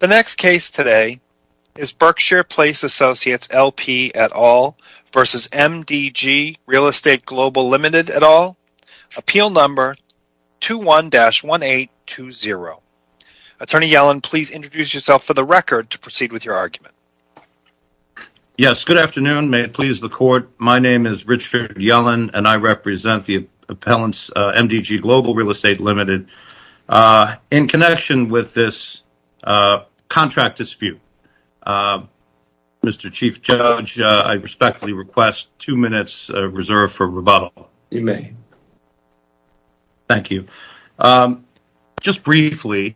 The next case today is Berkshire Place Associates, LP et al. versus MDG Real Estate Global Limited et al. Appeal number 21-1820. Attorney Yellen, please introduce yourself for the record to proceed with your argument. Yes, good afternoon. May it please the court, my name is Richard Yellen and I represent the appellants MDG Global Real Estate Limited in connection with this contract dispute. Mr. Chief Judge, I respectfully request two minutes reserve for rebuttal. You may. Thank you. Just briefly,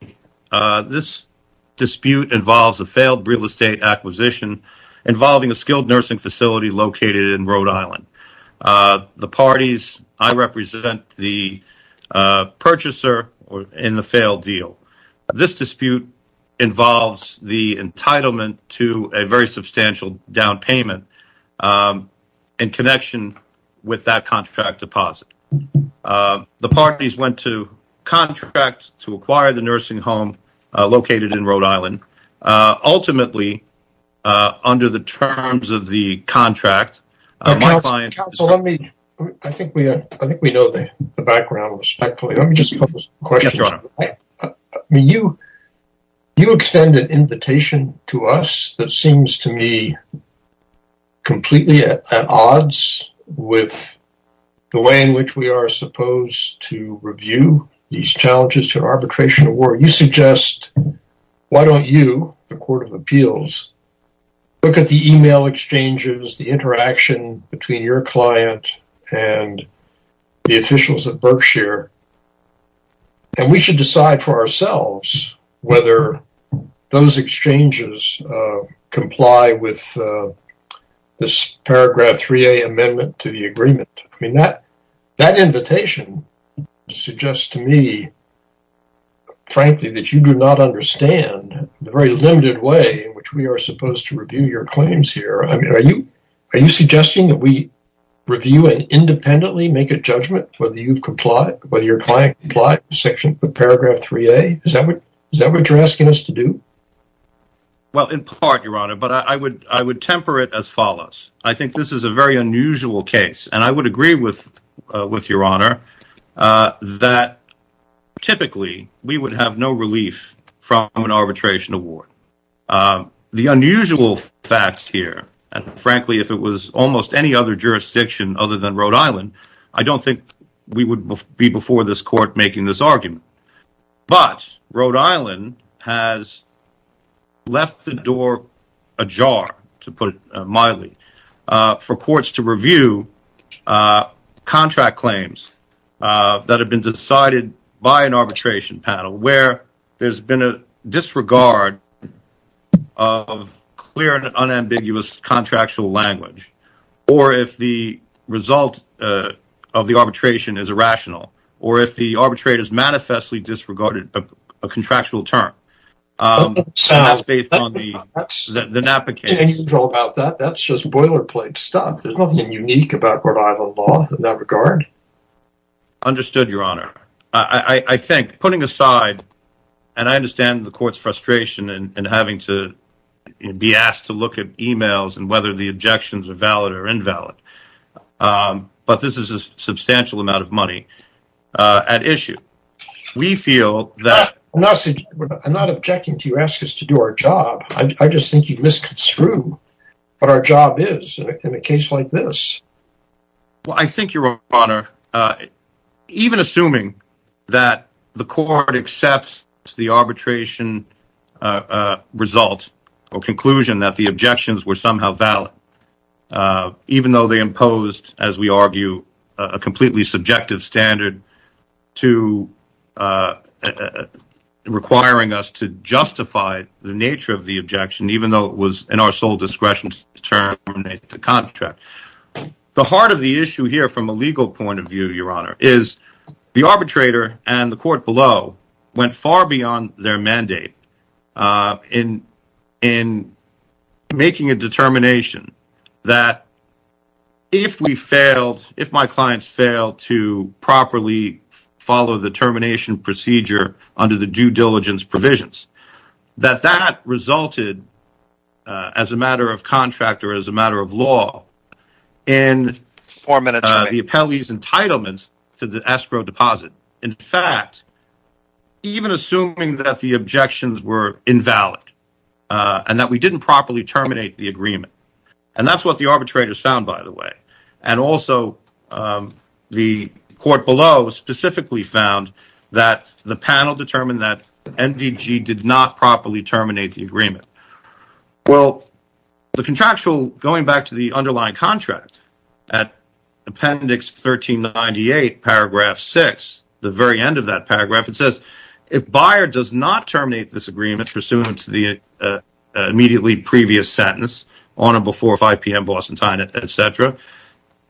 this dispute involves a failed real estate acquisition involving a skilled nursing facility located in Rhode Island. The parties I represent the purchaser in the failed deal. This dispute involves the entitlement to a very substantial down payment in connection with that contract deposit. The parties went to contract to acquire the nursing home located in Rhode Island. Ultimately, under the terms of the contract, my client... Counsel, I think we know the background respectfully. You extended invitation to us that seems to me completely at odds with the way in which we are supposed to review these challenges to arbitration award. You suggest, why don't you, the court of appeals, look at the email exchanges, the interaction between your client and the officials at Berkshire, and we should decide for ourselves whether those exchanges comply with this paragraph 3A amendment to the agreement. I mean, that invitation suggests to me frankly that you do not understand the very limited way in which we are supposed to review your claims here. I mean, are you suggesting that we review and independently make a judgment whether you've complied, whether your client complied with paragraph 3A? Is that what you're asking us to do? Well, in part, Your Honor, but I would temper it as follows. I think this is a unusual case, and I would agree with Your Honor that typically we would have no relief from an arbitration award. The unusual fact here, and frankly, if it was almost any other jurisdiction other than Rhode Island, I don't think we would be before this court making this to review contract claims that have been decided by an arbitration panel where there's been a disregard of clear and unambiguous contractual language, or if the result of the arbitration is irrational, or if the arbitrator has manifestly disregarded a contractual term. So, that's just boilerplate stuff. There's nothing unique about Rhode Island law in that regard. Understood, Your Honor. I think, putting aside, and I understand the court's frustration in having to be asked to look at emails and whether the objections are valid or invalid, but this is a you ask us to do our job. I just think you'd misconstrue what our job is in a case like this. Well, I think, Your Honor, even assuming that the court accepts the arbitration result or conclusion that the objections were somehow valid, even though they imposed, as we argue, a completely subjective standard to requiring us to justify the nature of the objection, even though it was in our sole discretion to terminate the contract. The heart of the issue here, from a legal point of view, Your Honor, is the arbitrator and the court below went far beyond their mandate in in making a determination that, if we failed, if my clients failed to properly follow the termination procedure under the due diligence provisions, that that resulted, as a matter of contract or as a matter of law, in the appellee's entitlements to the escrow deposit. In fact, even assuming that the objections were invalid and that we didn't properly terminate the agreement, and that's what the arbitrators found, by the way, and also the court below specifically found that the panel determined that MDG did not properly terminate the agreement. Well, the contractual, going back to the underlying contract at Appendix 1398, Paragraph 6, the very end of that paragraph, it says, if buyer does not terminate this agreement pursuant to the immediately previous sentence, on or before 5 p.m. Boston time, etc.,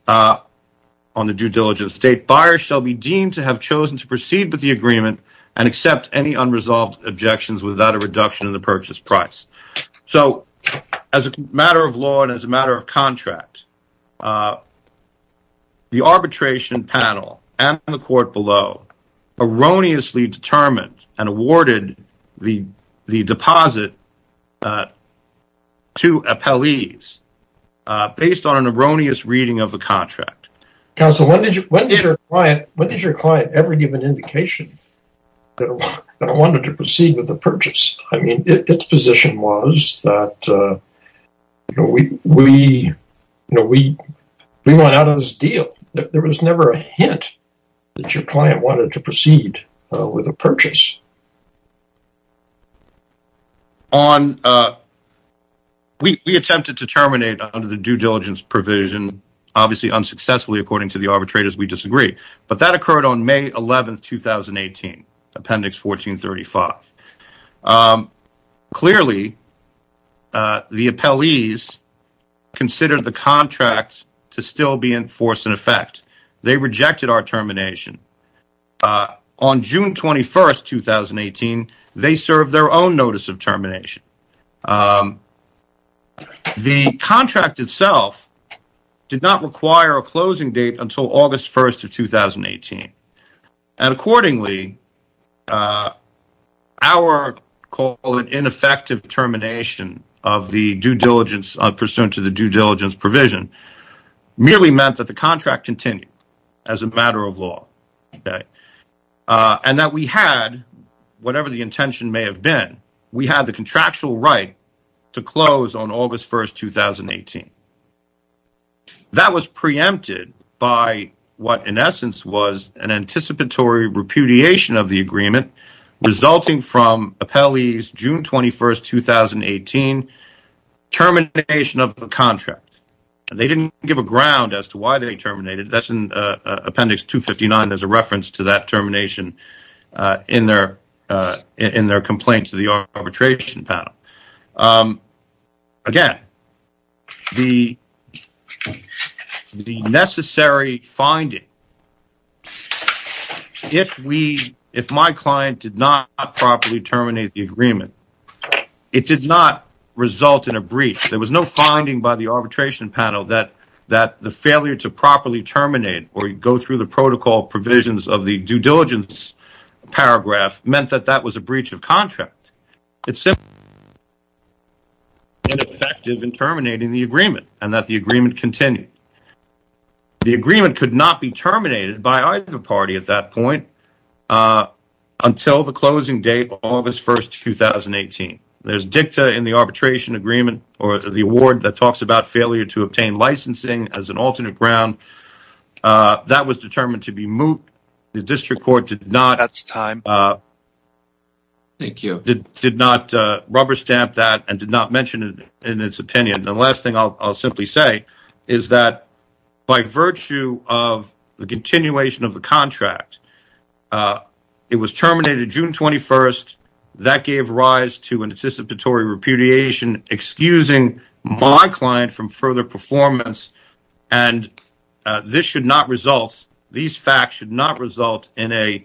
on the due diligence date, buyer shall be deemed to have chosen to proceed with the agreement and accept any unresolved objections without a reduction in the purchase price. So, as a matter of law and as a matter of contract, the arbitration panel and the court below erroneously determined and awarded the deposit to appellees based on an erroneous reading of the contract. Counsel, when did your client ever give an indication that it wanted to proceed with the purchase? I mean, its position was that we went out of this deal. There was never a hint that your client wanted to proceed with a purchase. We attempted to terminate under the due diligence provision, obviously unsuccessfully according to the arbitrators, we disagree, but that occurred on May 11th, 2018, Appendix 1435. Clearly, the appellees considered the contract to still be in force and effect. They rejected our termination. On June 21st, 2018, they served their own notice of termination. The contract itself did not require a closing date until August 1st, 2018, and accordingly, our call it ineffective termination of the due diligence pursuant to the due diligence provision merely meant that the contract continued as a matter of law, okay, and that we had, whatever the intention may have been, we had the contractual right to close on August 1st, 2018. That was preempted by what, in essence, was an anticipatory repudiation of the agreement resulting from appellees June 21st, 2018 termination of the contract. They didn't give a ground as to why they terminated. That's in Appendix 259. There's a reference to that in their complaint to the arbitration panel. Again, the necessary finding, if my client did not properly terminate the agreement, it did not result in a breach. There was no finding by the arbitration panel that the failure to properly terminate or go through the protocol provisions of the due diligence paragraph meant that that was a breach of contract. It's simply ineffective in terminating the agreement and that the agreement continued. The agreement could not be terminated by either party at that point until the closing date, August 1st, 2018. There's dicta in the arbitration agreement or the award that talks about failure to obtain licensing as an alternate ground. That was determined to be moot. The district court did not rubber stamp that and did not mention it in its opinion. The last thing I'll simply say is that by virtue of the continuation of the contract, it was terminated June 21st. That gave rise to anticipatory repudiation, excusing my client from further performance. These facts should not result in an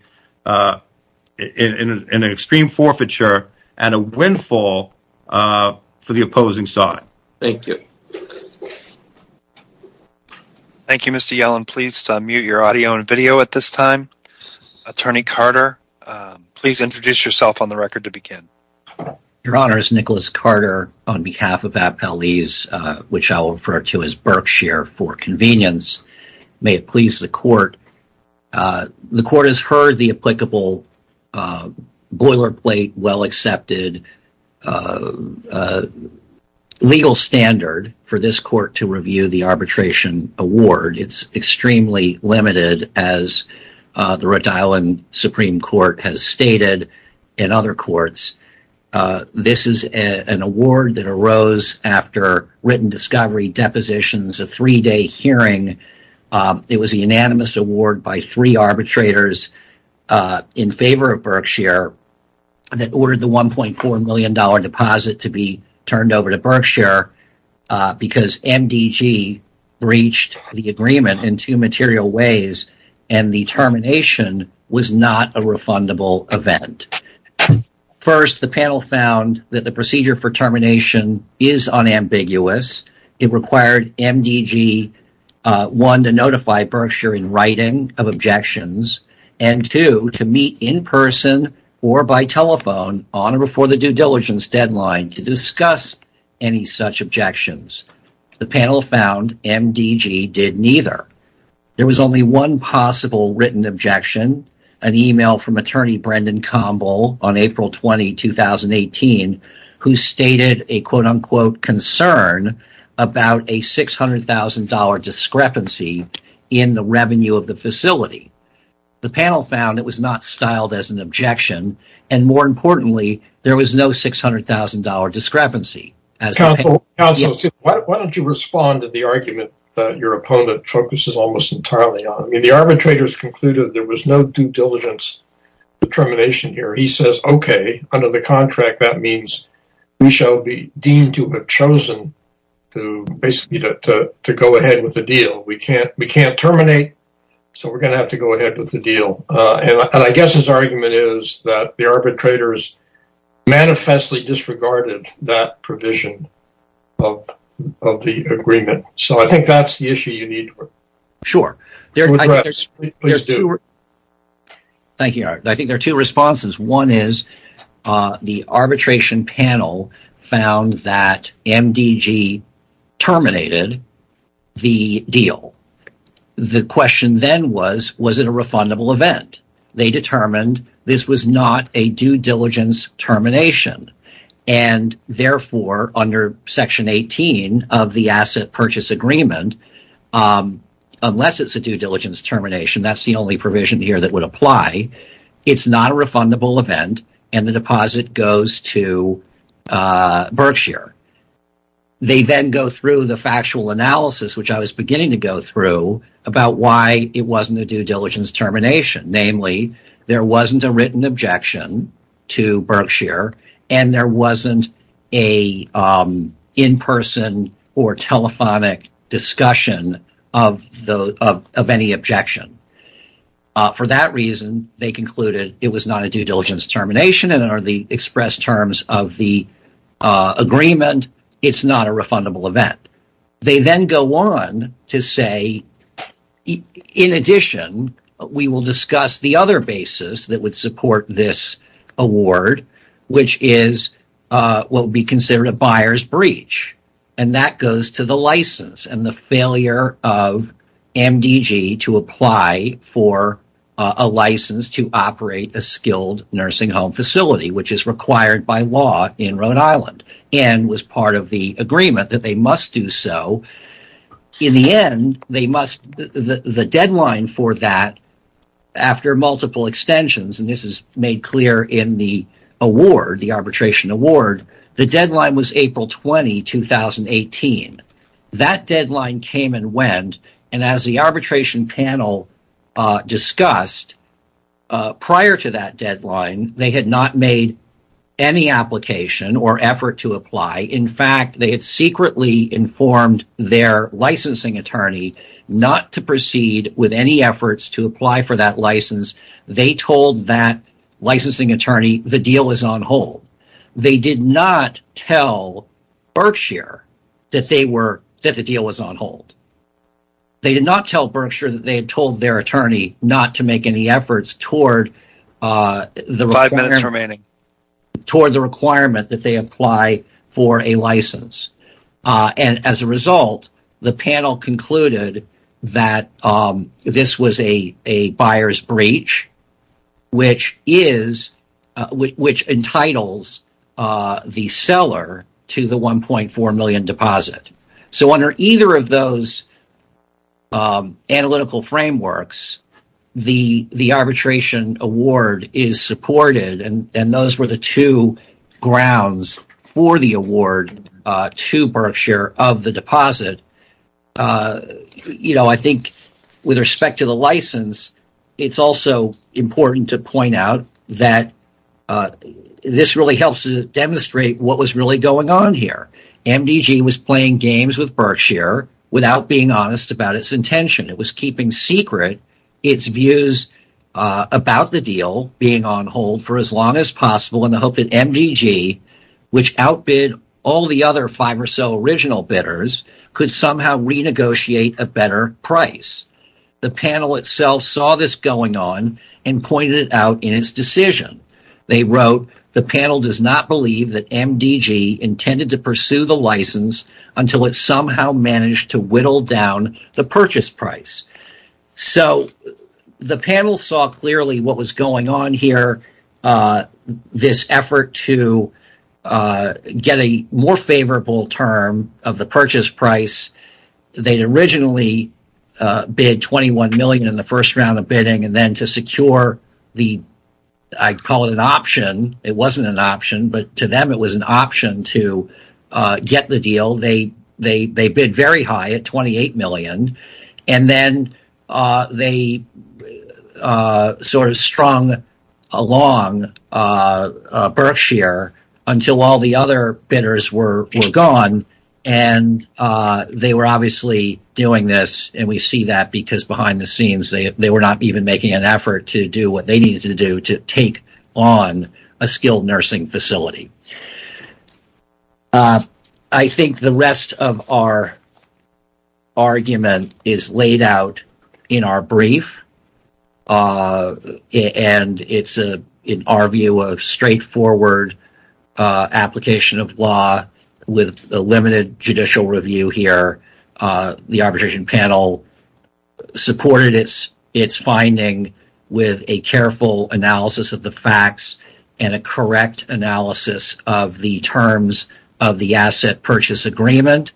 extreme forfeiture and a windfall for the opposing side. Thank you. Thank you, Mr. Yellen. Please unmute your audio and video at this time. Attorney Carter, please introduce yourself on the record to begin. Your Honor, it's Nicholas Carter on behalf of Appellees, which I'll refer to as Berkshire for convenience. May it please the court, the court has heard the applicable boilerplate, well-accepted legal standard for this court to review the arbitration award. It's extremely limited, as the Rhode Island Supreme Court has stated and other courts. This is an award that arose after written discovery, depositions, a three-day hearing. It was a unanimous award by three arbitrators in favor of Berkshire that ordered the $1.4 million deposit to be turned and the termination was not a refundable event. First, the panel found that the procedure for termination is unambiguous. It required MDG, one, to notify Berkshire in writing of objections, and two, to meet in person or by telephone on or before the due diligence deadline to discuss any such objections. The panel found MDG did neither. There was only one possible written objection, an email from attorney Brendan Campbell on April 20, 2018, who stated a concern about a $600,000 discrepancy in the revenue of the facility. The panel found it was not styled as an objection, and more importantly, there was no $600,000 discrepancy. Why don't you respond to the argument that your opponent focuses almost entirely on? The arbitrators concluded there was no due diligence determination here. He says, okay, under the contract, that means we shall be deemed to have chosen to go ahead with the deal. We can't terminate, so we're going to have to go ahead with the deal. I guess his argument is that the arbitrators manifestly disregarded that provision of the agreement. I think that's the issue you need to address. There are two responses. One is the arbitration panel found that MDG terminated the deal. The question then was, was it a refundable event? They determined this was not a due diligence termination, and therefore under Section 18 of the Asset Purchase Agreement, unless it's a due diligence termination, that's the only provision here that would apply. It's not a refundable event, and the deposit goes to Berkshire. They then go through the factual analysis, which I was beginning to go through, about why it wasn't a due diligence termination. Namely, there wasn't a written objection to Berkshire, and there wasn't a in-person or telephonic discussion of any objection. For that reason, they concluded it was not a due diligence termination, and under the express terms of the agreement, it's not a refundable event. They then go on to say, in addition, we will discuss the other basis that would support this award, which is what would be considered a buyer's breach, and that goes to the license and the failure of MDG to apply for a license to operate a skilled nursing home facility, which is required by law in Rhode Island and was part of the agreement that they must do so. In the end, the deadline for that, after multiple extensions, and this is made clear in the award, the arbitration award, the deadline was April 20, 2018. That deadline came and went, and as the arbitration panel discussed, prior to that deadline, they had not made any application or effort to apply. In fact, they had secretly informed their licensing attorney not to proceed with any efforts to apply for that license. They told that licensing attorney the deal was on hold. They did not tell Berkshire that the deal was on hold. They did not tell Berkshire that they had told their attorney not to make any efforts toward the requirement that they apply for a license. As a result, the panel concluded that this was a buyer's breach, which entitles the seller to the $1.4 million deposit. Under either of those analytical frameworks, the arbitration award is supported, and those were the two grounds for the award to Berkshire of the deposit. With respect to the license, it is also important to point out that this really helps to demonstrate what was really going on here. MDG was playing games with Berkshire without being honest about its intention. It was keeping secret its views about the deal being on hold for as long as possible in the hope that MDG, which outbid all the other five or so original bidders, could somehow renegotiate a better price. The panel itself saw this going on and pointed it out in its decision. They wrote, ìThe panel does not believe that MDG intended to pursue the license until it somehow managed to whittle down the purchase price.î The panel saw clearly what was going on here, this effort to get a more favorable term of the purchase price. Theyíd bid $21 million in the first round of bidding, and then to secure an option, it wasnít an option, but to them it was an option to get the deal, they bid very high at $28 million, and then they strung along Berkshire until all the other bidders were gone. They were obviously doing this, and we see that because behind the scenes they were not even making an effort to do what they needed to do to take on a skilled nursing facility. I think the rest of our argument is laid out in our brief, and itís in our view a straightforward application of law with a limited judicial review here. The arbitration panel supported its finding with a careful analysis of the facts and a correct analysis of the terms of the asset purchase agreement.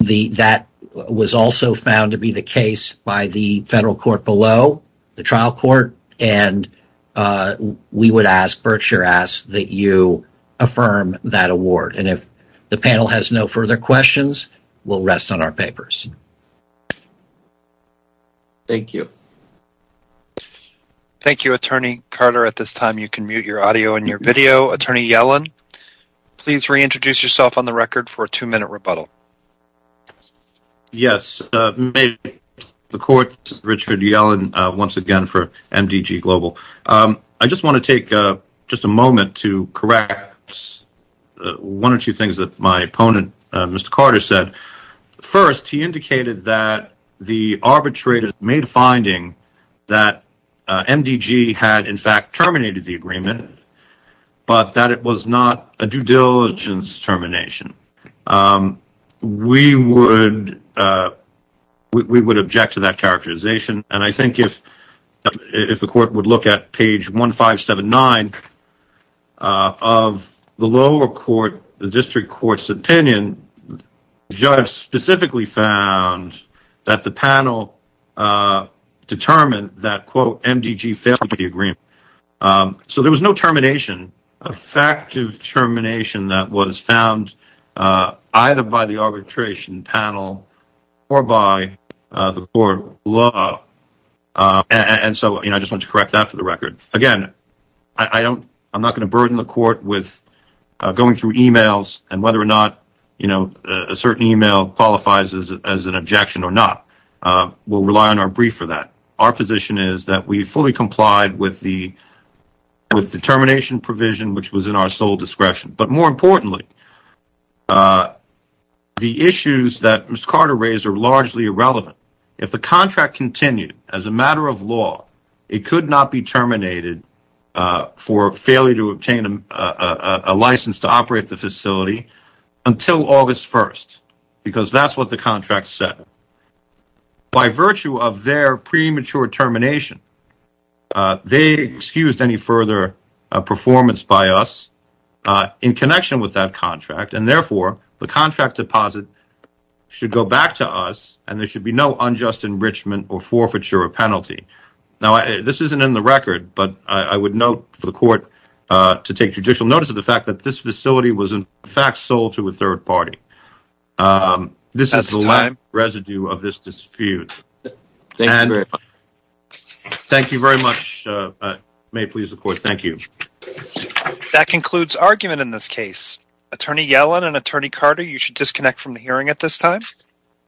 That was also found to be the case by the federal court below, the trial court, and we would ask, Berkshire asks, that you affirm that award. If the panel has no further questions, weíll rest on our papers. Thank you. Thank you, Attorney Carter. At this time, you can mute your audio and your video. Attorney Yellen, please reintroduce yourself on the record for a two-minute rebuttal. Yes. May the Court, Richard Yellen, once again for MDG Global. I just want to take just a moment to correct one or two things that my opponent, Mr. Carter, said. First, he indicated that the due diligence termination was not a due diligence termination. We would object to that characterization, and I think if the Court would look at page 1579 of the lower court, the district courtís opinion, the judge specifically found that the panel determined that, ìMDG failed the agreement.î So there was no termination, effective termination that was found either by the arbitration panel or by the court below, and so I just want to correct that for the record. Again, Iím not going to burden the court with going through emails and whether or not a certain email qualifies as an objection or not. Weíll rely on our brief for that. Our position is that we fully complied with the termination provision, which was in our sole discretion. But more importantly, the issues that Mr. Carter raised are largely irrelevant. If the contract continued as a matter of law, it could not be terminated for failure to obtain a license to operate the facility until August 1st, because thatís what the contract said. By virtue of their premature termination, they excused any further performance by us in connection with that contract, and therefore, the contract deposit should go back to us and there should be no unjust enrichment or forfeiture or penalty. Now, this isnít in the record, but I would note for the court to take judicial notice of the fact that this facility was in fact sold to a third party. This is the case. Thank you very much. May it please the court. Thank you. That concludes argument in this case. Attorney Yellen and Attorney Carter, you should disconnect from the hearing at this time.